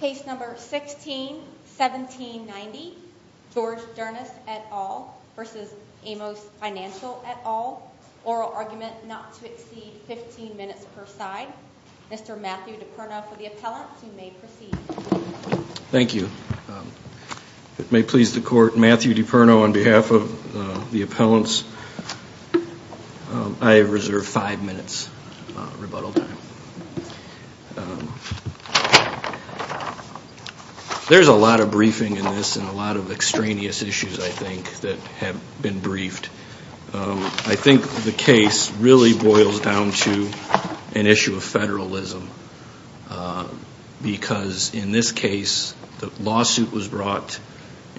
Case number 16-1790, George Dernis et al. v. Amos Financial et al., oral argument not to exceed 15 minutes per side. Mr. Matthew DiPerno for the appellant, you may proceed. Thank you. It may please the court, Matthew DiPerno on behalf of the appellants. I reserve five minutes rebuttal time. There's a lot of briefing in this and a lot of extraneous issues, I think, that have been briefed. I think the case really boils down to an issue of federalism because in this case the lawsuit was brought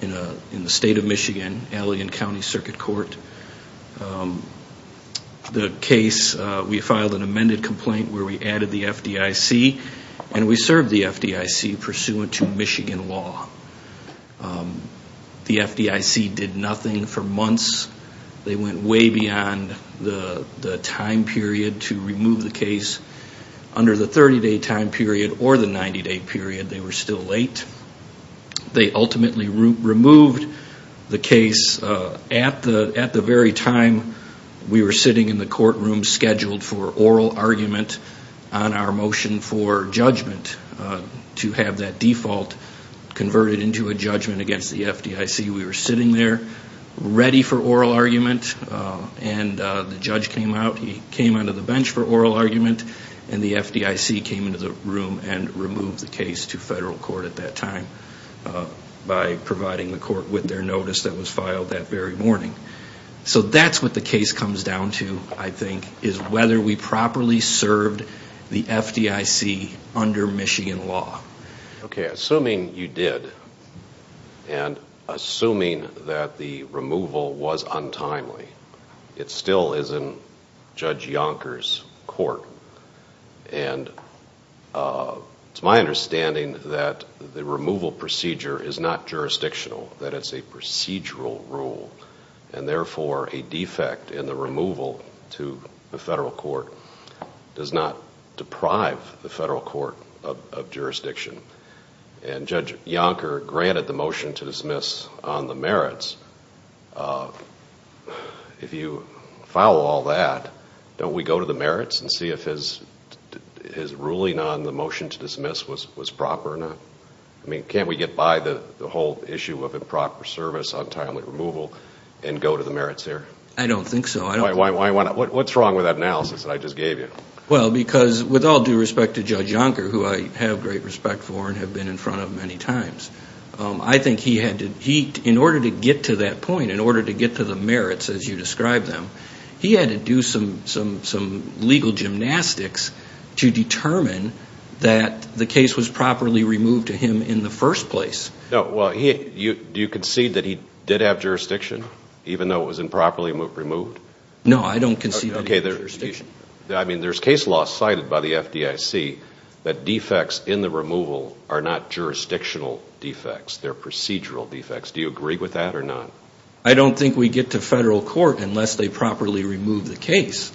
in the state of Michigan, Alley and County Circuit Court. The case, we filed an amended complaint where we added the FDIC and we served the FDIC pursuant to Michigan law. The FDIC did nothing for months. They went way beyond the time period to remove the case. Under the 30-day time period or the 90-day period, they were still late. They ultimately removed the case at the very time we were sitting in the courtroom scheduled for oral argument on our motion for judgment to have that default converted into a judgment against the FDIC. We were sitting there ready for oral argument and the judge came out. He came onto the bench for oral argument and the FDIC came into the room and removed the case to federal court at that time by providing the court with their notice that was filed that very morning. So that's what the case comes down to, I think, is whether we properly served the FDIC under Michigan law. Okay, assuming you did and assuming that the removal was untimely, it still is in Judge Yonker's court. And it's my understanding that the removal procedure is not jurisdictional, that it's a procedural rule, and therefore a defect in the removal to the federal court does not deprive the federal court of jurisdiction. And Judge Yonker granted the motion to dismiss on the merits. If you follow all that, don't we go to the merits and see if his ruling on the motion to dismiss was proper or not? I mean, can't we get by the whole issue of improper service, untimely removal, and go to the merits there? I don't think so. Why not? What's wrong with that analysis that I just gave you? Well, because with all due respect to Judge Yonker, who I have great respect for and have been in front of many times, I think he had to – in order to get to that point, in order to get to the merits as you described them, he had to do some legal gymnastics to determine that the case was properly removed to him in the first place. Well, do you concede that he did have jurisdiction, even though it was improperly removed? No, I don't concede that he had jurisdiction. I mean, there's case law cited by the FDIC that defects in the removal are not jurisdictional defects. They're procedural defects. Do you agree with that or not? I don't think we get to federal court unless they properly remove the case.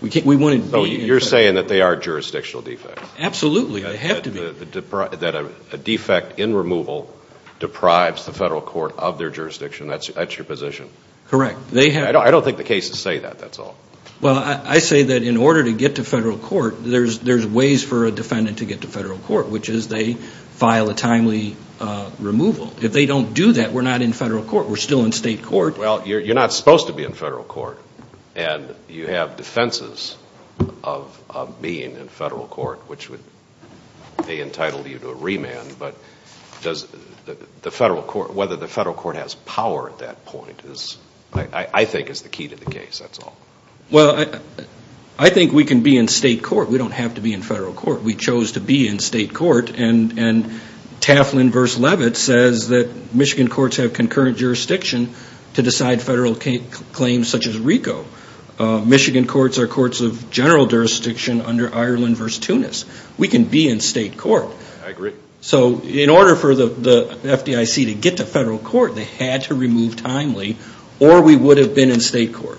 So you're saying that they are jurisdictional defects? Absolutely. That a defect in removal deprives the federal court of their jurisdiction. That's your position? Correct. I don't think the cases say that. That's all. Well, I say that in order to get to federal court, there's ways for a defendant to get to federal court, which is they file a timely removal. If they don't do that, we're not in federal court. We're still in state court. Well, you're not supposed to be in federal court, and you have defenses of being in federal court, which would be entitled you to a remand. But whether the federal court has power at that point, I think, is the key to the case. That's all. Well, I think we can be in state court. We don't have to be in federal court. We chose to be in state court, and Taflin v. Levitt says that Michigan courts have concurrent jurisdiction to decide federal claims such as RICO. Michigan courts are courts of general jurisdiction under Ireland v. Tunis. We can be in state court. I agree. So in order for the FDIC to get to federal court, they had to remove timely, or we would have been in state court.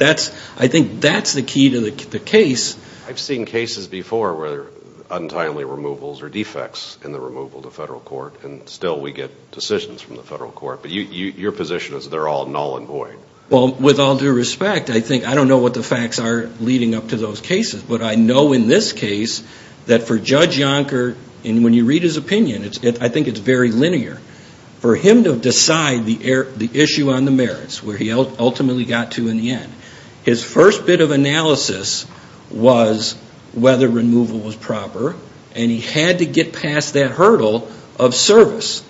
I think that's the key to the case. I've seen cases before where there are untimely removals or defects in the removal to federal court, and still we get decisions from the federal court. But your position is they're all null and void. Well, with all due respect, I think I don't know what the facts are leading up to those cases, but I know in this case that for Judge Yonker, and when you read his opinion, I think it's very linear. For him to decide the issue on the merits, where he ultimately got to in the end, his first bit of analysis was whether removal was proper, and he had to get past that hurdle of service.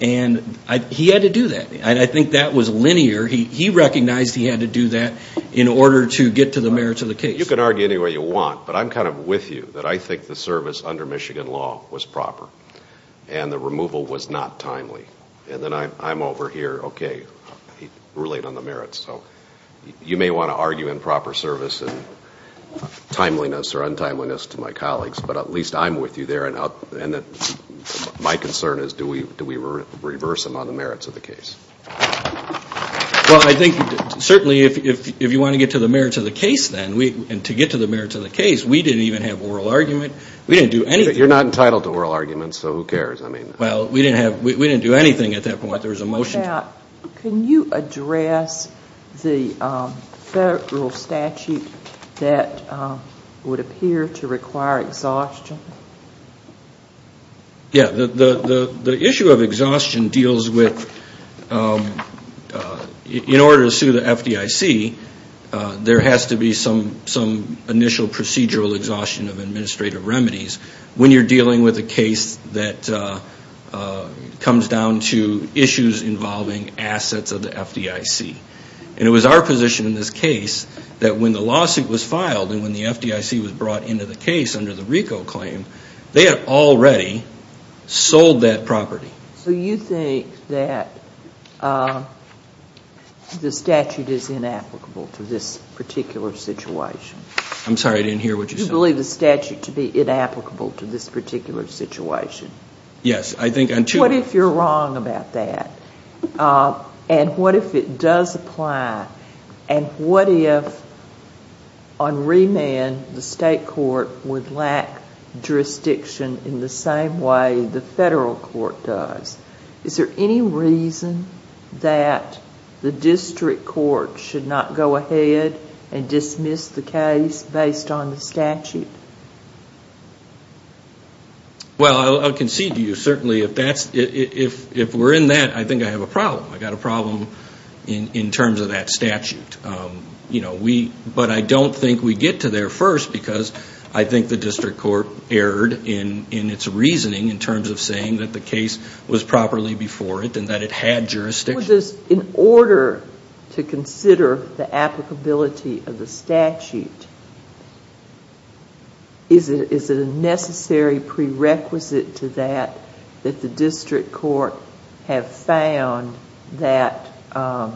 And he had to do that, and I think that was linear. He recognized he had to do that in order to get to the merits of the case. You can argue any way you want, but I'm kind of with you that I think the service under Michigan law was proper, and the removal was not timely. And then I'm over here, okay, relate on the merits. So you may want to argue improper service and timeliness or untimeliness to my colleagues, but at least I'm with you there, and my concern is do we reverse them on the merits of the case? Well, I think certainly if you want to get to the merits of the case then, and to get to the merits of the case, we didn't even have oral argument. We didn't do anything. You're not entitled to oral arguments, so who cares? Well, we didn't do anything at that point. There was a motion. Can you address the federal statute that would appear to require exhaustion? Yeah, the issue of exhaustion deals with, in order to sue the FDIC, there has to be some initial procedural exhaustion of administrative remedies when you're dealing with a case that comes down to issues involving assets of the FDIC. And it was our position in this case that when the lawsuit was filed and when the FDIC was brought into the case under the RICO claim, they had already sold that property. So you think that the statute is inapplicable to this particular situation? I'm sorry, I didn't hear what you said. You believe the statute to be inapplicable to this particular situation? Yes. What if you're wrong about that? And what if it does apply? And what if on remand the state court would lack jurisdiction in the same way the federal court does? Is there any reason that the district court should not go ahead and dismiss the case based on the statute? Well, I'll concede to you. Certainly, if we're in that, I think I have a problem. I've got a problem in terms of that statute. But I don't think we get to there first because I think the district court erred in its reasoning in terms of saying that the case was properly before it and that it had jurisdiction. In order to consider the applicability of the statute, is it a necessary prerequisite to that that the district court have found that the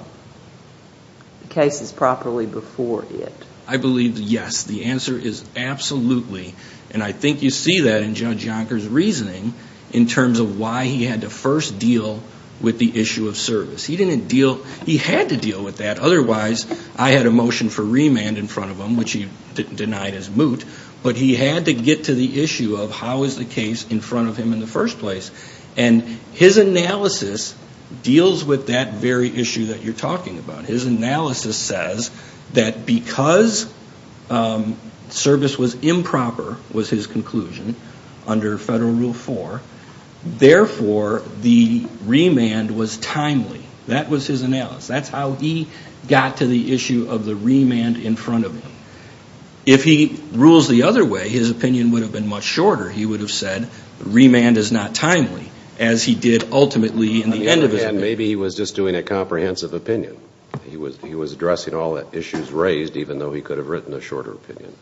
case is properly before it? I believe yes. The answer is absolutely. And I think you see that in Judge Yonker's reasoning in terms of why he had to first deal with the issue of service. He had to deal with that. Otherwise, I had a motion for remand in front of him, which he denied as moot. But he had to get to the issue of how is the case in front of him in the first place. And his analysis deals with that very issue that you're talking about. His analysis says that because service was improper, was his conclusion, under Federal Rule 4, therefore the remand was timely. That was his analysis. That's how he got to the issue of the remand in front of him. If he rules the other way, his opinion would have been much shorter. He would have said remand is not timely, as he did ultimately in the end of his opinion. Maybe he was just doing a comprehensive opinion. He was addressing all the issues raised, even though he could have written a shorter opinion.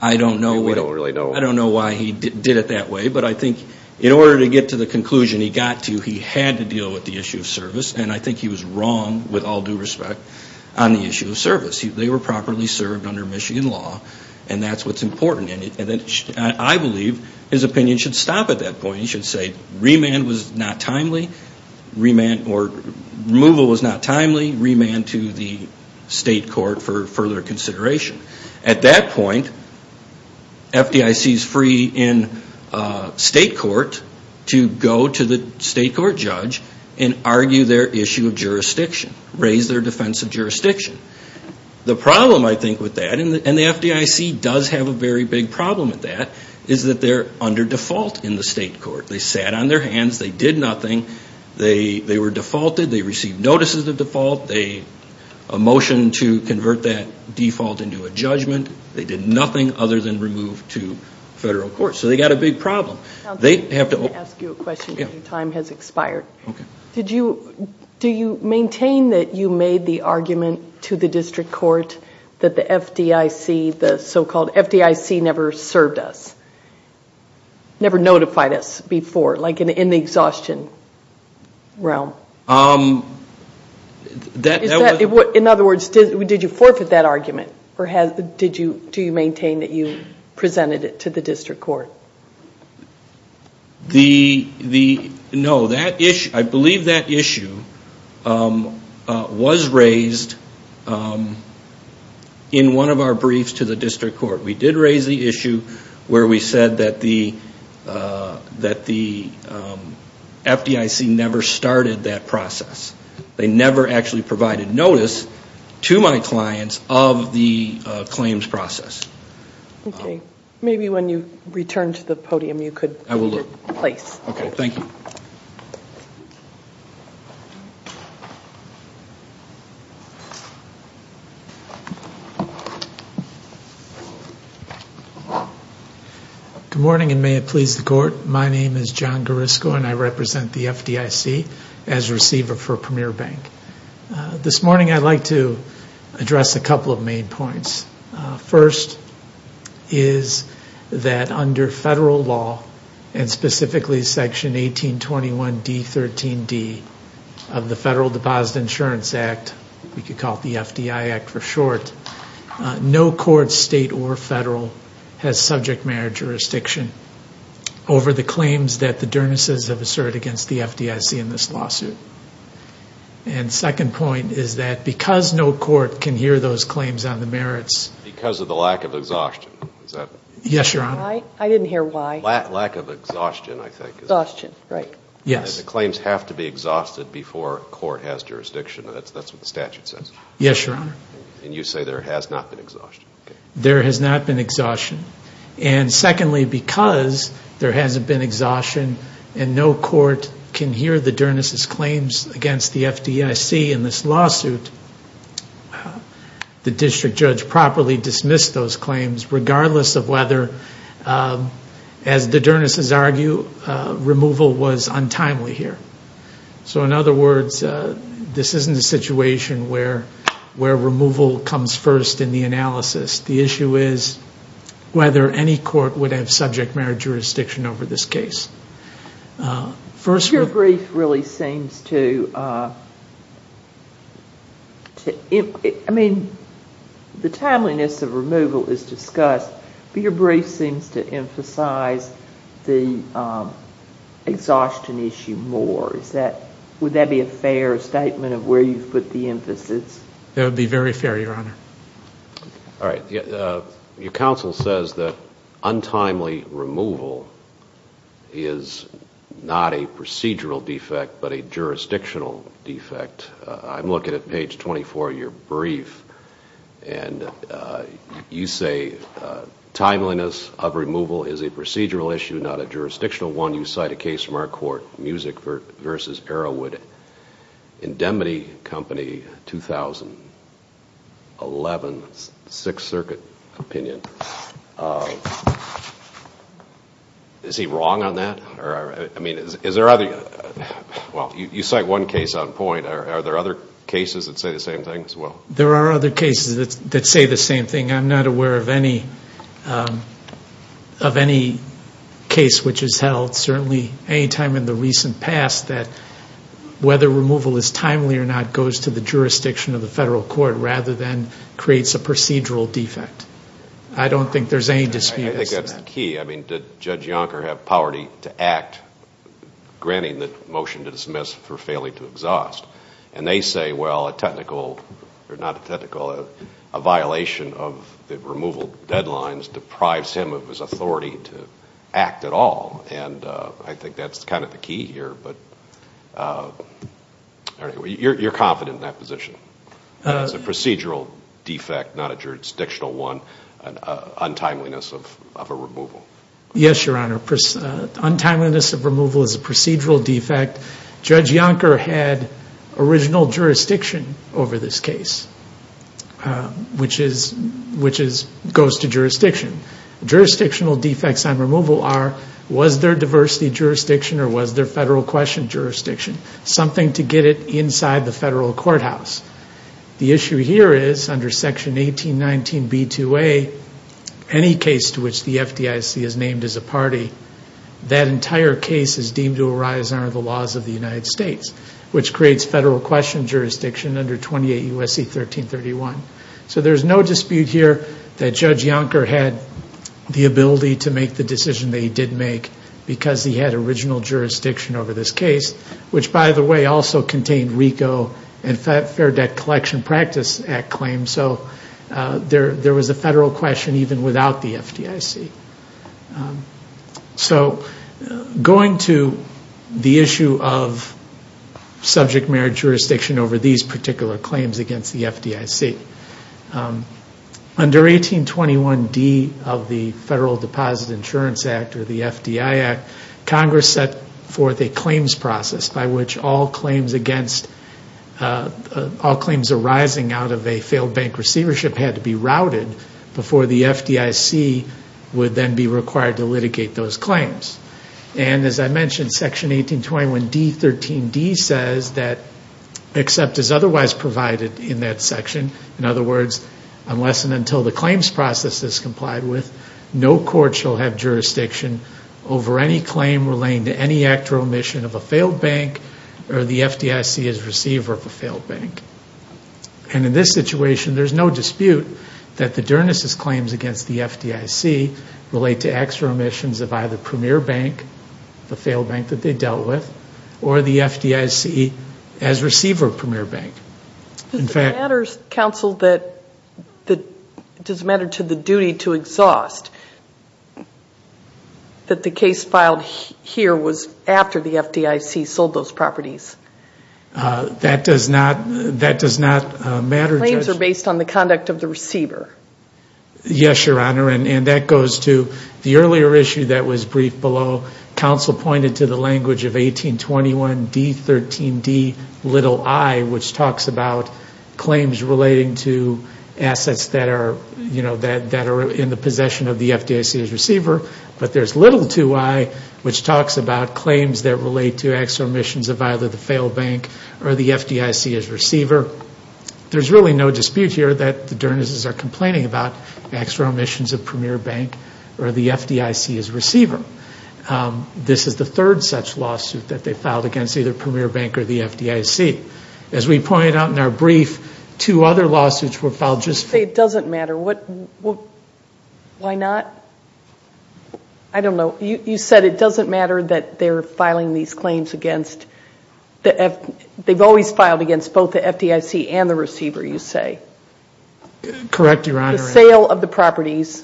I don't know. We don't really know. I don't know why he did it that way. But I think in order to get to the conclusion he got to, he had to deal with the issue of service. And I think he was wrong, with all due respect, on the issue of service. They were properly served under Michigan law, and that's what's important. And I believe his opinion should stop at that point. He should say remand was not timely, or removal was not timely, remand to the state court for further consideration. At that point, FDIC is free in state court to go to the state court judge and argue their issue of jurisdiction, raise their defense of jurisdiction. The problem, I think, with that, and the FDIC does have a very big problem with that, is that they're under default in the state court. They sat on their hands. They did nothing. They were defaulted. They received notices of default, a motion to convert that default into a judgment. They did nothing other than remove to federal court. So they've got a big problem. I have to ask you a question because your time has expired. Okay. Do you maintain that you made the argument to the district court that the FDIC, the so-called FDIC never served us, never notified us before, like in the exhaustion realm? In other words, did you forfeit that argument, or do you maintain that you presented it to the district court? No. I believe that issue was raised in one of our briefs to the district court. We did raise the issue where we said that the FDIC never started that process. They never actually provided notice to my clients of the claims process. Okay. Maybe when you return to the podium you could take your place. I will look. Okay. Thank you. Good morning, and may it please the court. My name is John Garisco, and I represent the FDIC as receiver for Premier Bank. This morning I'd like to address a couple of main points. First is that under federal law, and specifically Section 1821 D13D of the Federal Deposit Insurance Act, we could call it the FDI Act for short, no court, state or federal, has subject matter jurisdiction over the claims that the Dernisses have asserted against the FDIC in this lawsuit. And second point is that because no court can hear those claims on the merits. Because of the lack of exhaustion. Yes, Your Honor. I didn't hear why. Lack of exhaustion, I think. Exhaustion, right. Yes. The claims have to be exhausted before court has jurisdiction. That's what the statute says. Yes, Your Honor. And you say there has not been exhaustion. There has not been exhaustion. And secondly, because there hasn't been exhaustion and no court can hear the Dernisses' claims against the FDIC in this lawsuit, the district judge properly dismissed those claims, regardless of whether, as the Dernisses argue, removal was untimely here. So in other words, this isn't a situation where removal comes first in the analysis. The issue is whether any court would have subject matter jurisdiction over this case. Your brief really seems to, I mean, the timeliness of removal is discussed, but your brief seems to emphasize the exhaustion issue more. Would that be a fair statement of where you put the emphasis? That would be very fair, Your Honor. All right. Your counsel says that untimely removal is not a procedural defect but a jurisdictional defect. I'm looking at page 24 of your brief, and you say timeliness of removal is a procedural issue, not a jurisdictional one. When you cite a case from our court, Music v. Arrowwood, Indemnity Company, 2011, Sixth Circuit opinion, is he wrong on that? I mean, is there other, well, you cite one case on point. Are there other cases that say the same thing as well? There are other cases that say the same thing. I'm not aware of any case which has held, certainly any time in the recent past, that whether removal is timely or not goes to the jurisdiction of the federal court rather than creates a procedural defect. I don't think there's any dispute as to that. I think that's the key. I mean, did Judge Yonker have power to act granting the motion to dismiss for failing to exhaust? And they say, well, a technical, or not a technical, a violation of the removal deadlines deprives him of his authority to act at all. And I think that's kind of the key here. But you're confident in that position. It's a procedural defect, not a jurisdictional one, untimeliness of a removal. Yes, Your Honor. Untimeliness of removal is a procedural defect. Judge Yonker had original jurisdiction over this case, which goes to jurisdiction. Jurisdictional defects on removal are, was there diversity jurisdiction or was there federal question jurisdiction? Something to get it inside the federal courthouse. The issue here is, under Section 1819B2A, any case to which the FDIC is named as a party, that entire case is deemed to arise under the laws of the United States, which creates federal question jurisdiction under 28 U.S.C. 1331. So there's no dispute here that Judge Yonker had the ability to make the decision that he did make because he had original jurisdiction over this case, which, by the way, also contained RICO and Fair Debt Collection Practice Act claims. So there was a federal question even without the FDIC. So going to the issue of subject marriage jurisdiction over these particular claims against the FDIC, under 1821D of the Federal Deposit Insurance Act or the FDI Act, Congress set forth a claims process by which all claims against, all claims arising out of a failed bank receivership had to be routed before the FDIC would then be required to litigate those claims. And as I mentioned, Section 1821D13D says that except as otherwise provided in that section, in other words, unless and until the claims process is complied with, no court shall have jurisdiction over any claim relating to any act or omission of a failed bank or the FDIC as receiver of a failed bank. And in this situation, there's no dispute that the Dernis' claims against the FDIC relate to acts or omissions of either Premier Bank, the failed bank that they dealt with, or the FDIC as receiver of Premier Bank. In fact- That does not matter. Claims are based on the conduct of the receiver. Yes, Your Honor, and that goes to the earlier issue that was briefed below. Counsel pointed to the language of 1821D13D, little i, which talks about claims relating to assets that are in the possession of the FDIC as receiver. But there's little to i, which talks about claims that relate to acts or omissions of either the failed bank or the FDIC as receiver. There's really no dispute here that the Dernis' are complaining about acts or omissions of Premier Bank or the FDIC as receiver. This is the third such lawsuit that they filed against either Premier Bank or the FDIC. As we pointed out in our brief, two other lawsuits were filed just- I don't know. You said it doesn't matter that they're filing these claims against- They've always filed against both the FDIC and the receiver, you say? Correct, Your Honor. The sale of the properties,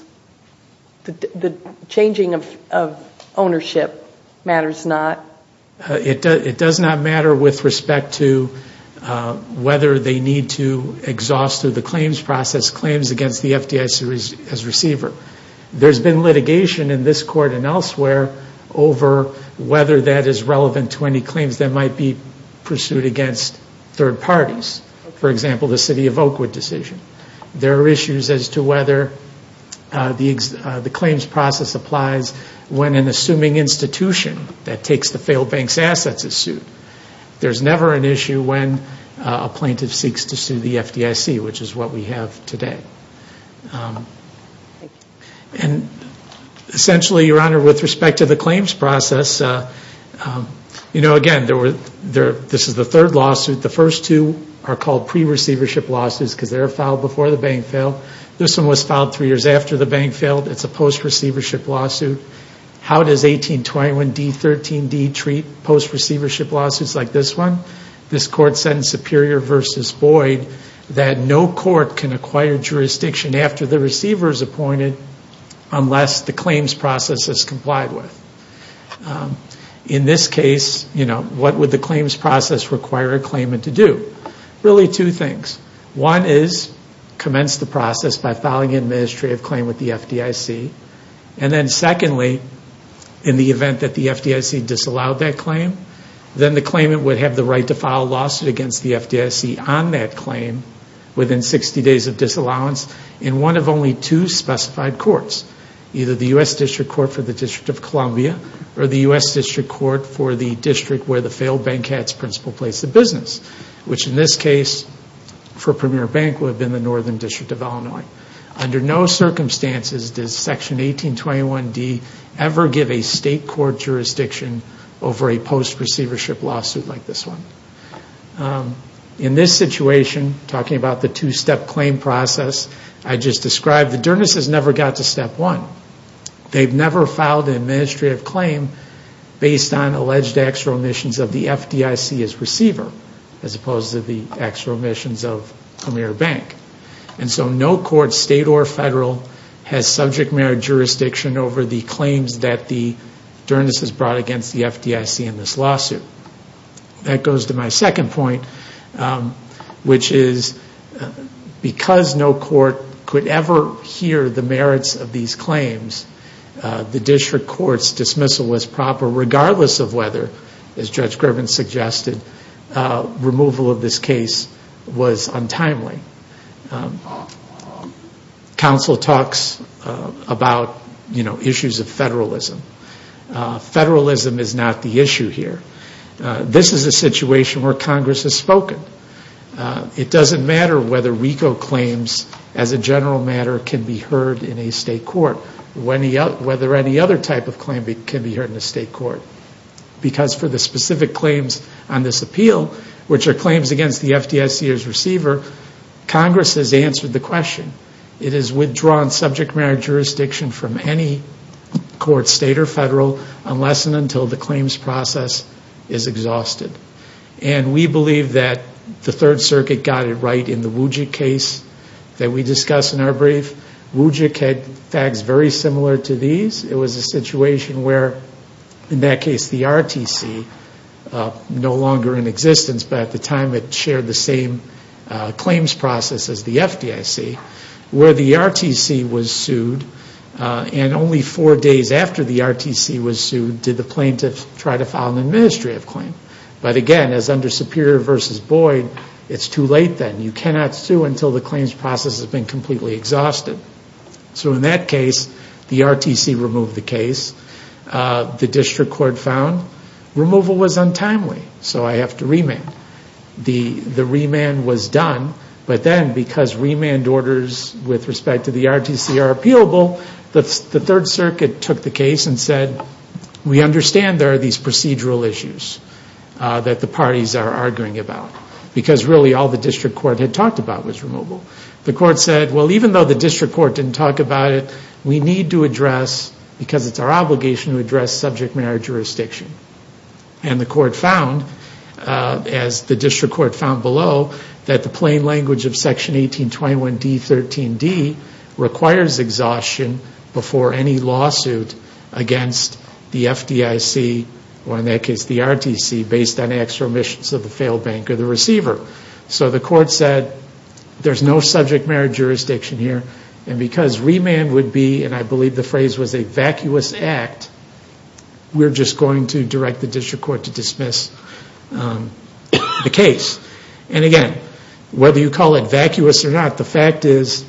the changing of ownership matters not? It does not matter with respect to whether they need to exhaust through the claims process claims against the FDIC as receiver. There's been litigation in this court and elsewhere over whether that is relevant to any claims that might be pursued against third parties. For example, the City of Oakwood decision. There are issues as to whether the claims process applies when an assuming institution that takes the failed bank's assets is sued. There's never an issue when a plaintiff seeks to sue the FDIC, which is what we have today. Thank you. Essentially, Your Honor, with respect to the claims process, again, this is the third lawsuit. The first two are called pre-receivership lawsuits because they were filed before the bank failed. This one was filed three years after the bank failed. It's a post-receivership lawsuit. How does 1821 D13D treat post-receivership lawsuits like this one? This court sentenced Superior v. Boyd that no court can acquire jurisdiction after the receiver is appointed unless the claims process is complied with. In this case, what would the claims process require a claimant to do? Really two things. One is commence the process by filing an administrative claim with the FDIC. And then secondly, in the event that the FDIC disallowed that claim, then the claimant would have the right to file a lawsuit against the FDIC on that claim within 60 days of disallowance in one of only two specified courts, either the U.S. District Court for the District of Columbia or the U.S. District Court for the District where the failed bank had its principal place of business, which in this case, for Premier Bank, would have been the Northern District of Illinois. Under no circumstances does Section 1821 D ever give a state court jurisdiction over a post-receivership lawsuit like this one. In this situation, talking about the two-step claim process, I just described that Derness has never got to step one. They've never filed an administrative claim based on alleged extra omissions of the FDIC as receiver, as opposed to the extra omissions of Premier Bank. And so no court, state or federal, has subject matter jurisdiction over the claims that Derness has brought against the FDIC in this lawsuit. That goes to my second point, which is because no court could ever hear the merits of these claims, the District Court's dismissal was proper, regardless of whether, as Judge Grubin suggested, removal of this case was untimely. Counsel talks about issues of federalism. Federalism is not the issue here. This is a situation where Congress has spoken. It doesn't matter whether RICO claims, as a general matter, can be heard in a state court, whether any other type of claim can be heard in a state court. Because for the specific claims on this appeal, which are claims against the FDIC as receiver, Congress has answered the question. It has withdrawn subject matter jurisdiction from any court, state or federal, unless and until the claims process is exhausted. And we believe that the Third Circuit got it right in the Wujik case that we discussed in our brief. Wujik had facts very similar to these. It was a situation where, in that case, the RTC, no longer in existence, but at the time it shared the same claims process as the FDIC, where the RTC was sued and only four days after the RTC was sued did the plaintiffs try to file an administrative claim. But again, as under Superior v. Boyd, it's too late then. You cannot sue until the claims process has been completely exhausted. So in that case, the RTC removed the case. The district court found removal was untimely, so I have to remand. The remand was done, but then because remand orders with respect to the RTC are appealable, the Third Circuit took the case and said, we understand there are these procedural issues that the parties are arguing about, because really all the district court had talked about was removal. The court said, well, even though the district court didn't talk about it, we need to address, because it's our obligation to address, subject matter jurisdiction. And the court found, as the district court found below, that the plain language of Section 1821 D.13d requires exhaustion before any lawsuit against the FDIC, or in that case the RTC, based on extra omissions of the failed bank or the receiver. So the court said, there's no subject matter jurisdiction here, and because remand would be, and I believe the phrase was a vacuous act, we're just going to direct the district court to dismiss the case. And again, whether you call it vacuous or not, the fact is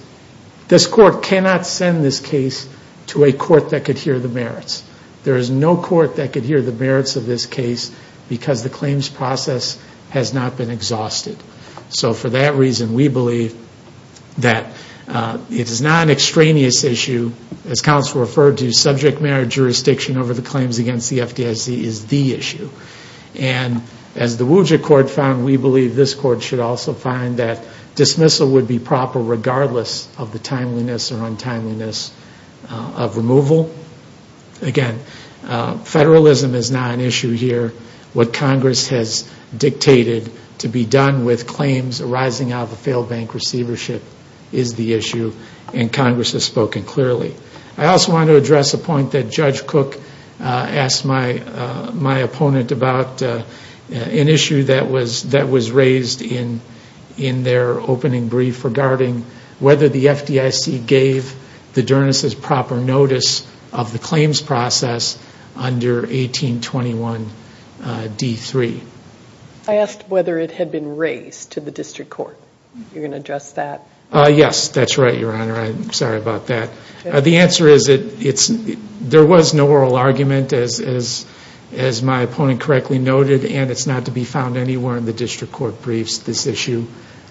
this court cannot send this case to a court that could hear the merits. There is no court that could hear the merits of this case, because the claims process has not been exhausted. So for that reason, we believe that it is not an extraneous issue, as counsel referred to, subject matter jurisdiction over the claims against the FDIC is the issue. And as the WUJA court found, we believe this court should also find that dismissal would be proper, regardless of the timeliness or untimeliness of removal. Again, federalism is not an issue here. What Congress has dictated to be done with claims arising out of a failed bank receivership is the issue, and Congress has spoken clearly. I also want to address a point that Judge Cook asked my opponent about, an issue that was raised in their opening brief regarding whether the FDIC gave the Dernisses proper notice of the claims process under 1821d3. I asked whether it had been raised to the district court. You're going to address that? Yes, that's right, Your Honor. I'm sorry about that. The answer is there was no oral argument, as my opponent correctly noted, and it's not to be found anywhere in the district court briefs, this issue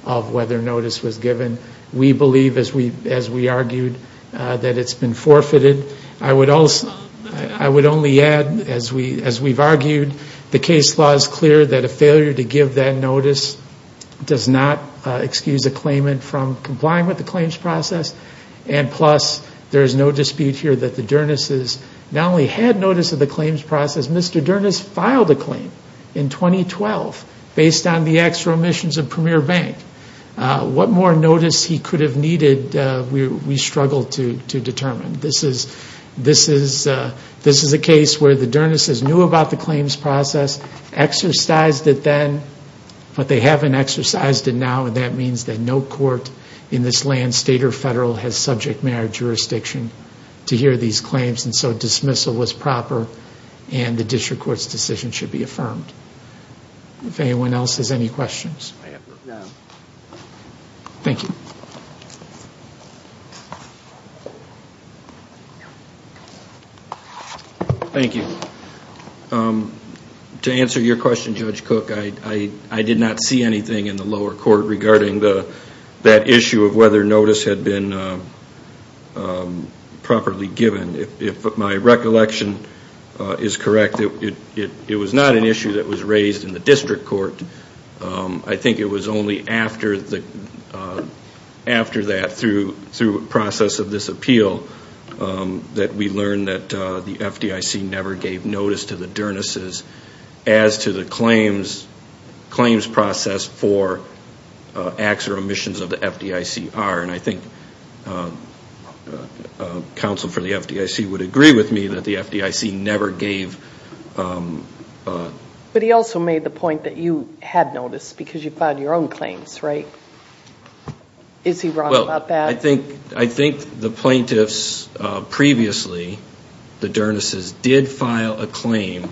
of whether notice was given. We believe, as we argued, that it's been forfeited. I would only add, as we've argued, the case law is clear that a failure to give that notice does not excuse a claimant from complying with the claims process, and plus there is no dispute here that the Dernisses not only had notice of the claims process, Mr. Dernisses filed a claim in 2012 based on the extra omissions of Premier Bank. What more notice he could have needed, we struggled to determine. This is a case where the Dernisses knew about the claims process, exercised it then, but they haven't exercised it now, and that means that no court in this land, state or federal, has subject marriage jurisdiction to hear these claims, and so dismissal was proper and the district court's decision should be affirmed. If anyone else has any questions? No. Thank you. Thank you. To answer your question, Judge Cook, I did not see anything in the lower court regarding that issue of whether notice had been properly given. If my recollection is correct, it was not an issue that was raised in the district court. I think it was only after that, through a process of this appeal, that we learned that the FDIC never gave notice to the Dernisses as to the claims process for acts or omissions of the FDICR, and I think counsel for the FDIC would agree with me that the FDIC never gave notice. But he also made the point that you had notice because you filed your own claims, right? Is he wrong about that? Well, I think the plaintiffs previously, the Dernisses, did file a claim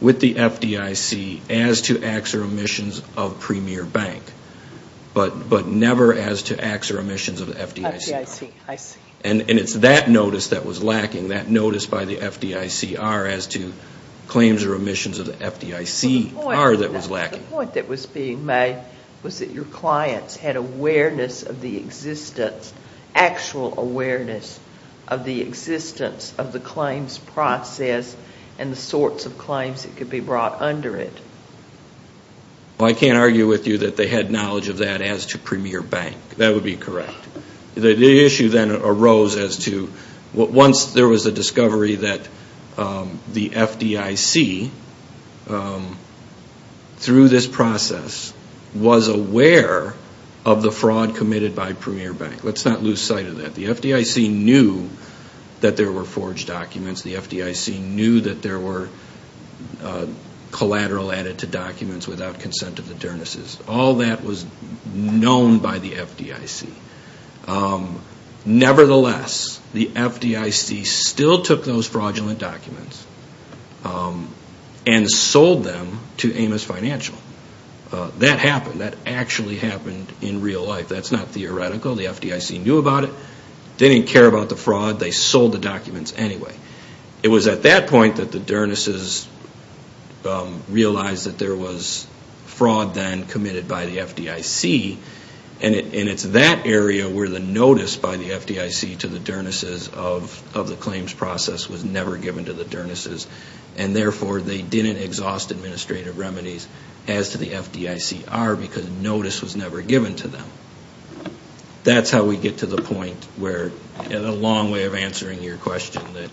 with the FDIC as to acts or omissions of Premier Bank, but never as to acts or omissions of the FDICR. FDIC, I see. And it's that notice that was lacking, that notice by the FDICR as to claims or omissions of the FDICR that was lacking. The point that was being made was that your clients had awareness of the existence, actual awareness of the existence of the claims process and the sorts of claims that could be brought under it. Well, I can't argue with you that they had knowledge of that as to Premier Bank. That would be correct. The issue then arose as to once there was a discovery that the FDIC through this process was aware of the fraud committed by Premier Bank. Let's not lose sight of that. The FDIC knew that there were forged documents. The FDIC knew that there were collateral added to documents without consent of the Dernisses. All that was known by the FDIC. Nevertheless, the FDIC still took those fraudulent documents and sold them to Amos Financial. That happened. That actually happened in real life. That's not theoretical. The FDIC knew about it. They didn't care about the fraud. They sold the documents anyway. It was at that point that the Dernisses realized that there was fraud then committed by the FDIC. And it's that area where the notice by the FDIC to the Dernisses of the claims process was never given to the Dernisses. And therefore, they didn't exhaust administrative remedies as to the FDICR because notice was never given to them. That's how we get to the point where, in a long way of answering your question, that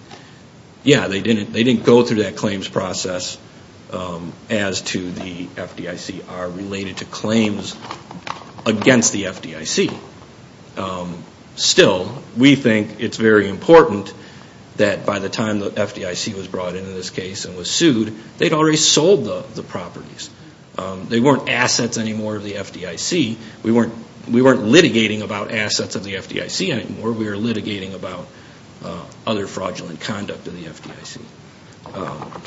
yeah, they didn't go through that claims process as to the FDICR related to claims against the FDIC. Still, we think it's very important that by the time the FDIC was brought into this case and was sued, they'd already sold the properties. They weren't assets anymore of the FDIC. We weren't litigating about assets of the FDIC anymore. We were litigating about other fraudulent conduct of the FDIC.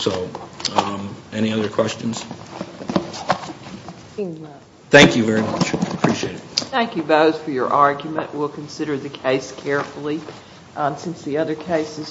So any other questions? Thank you very much. I appreciate it. Thank you both for your argument. We'll consider the case carefully.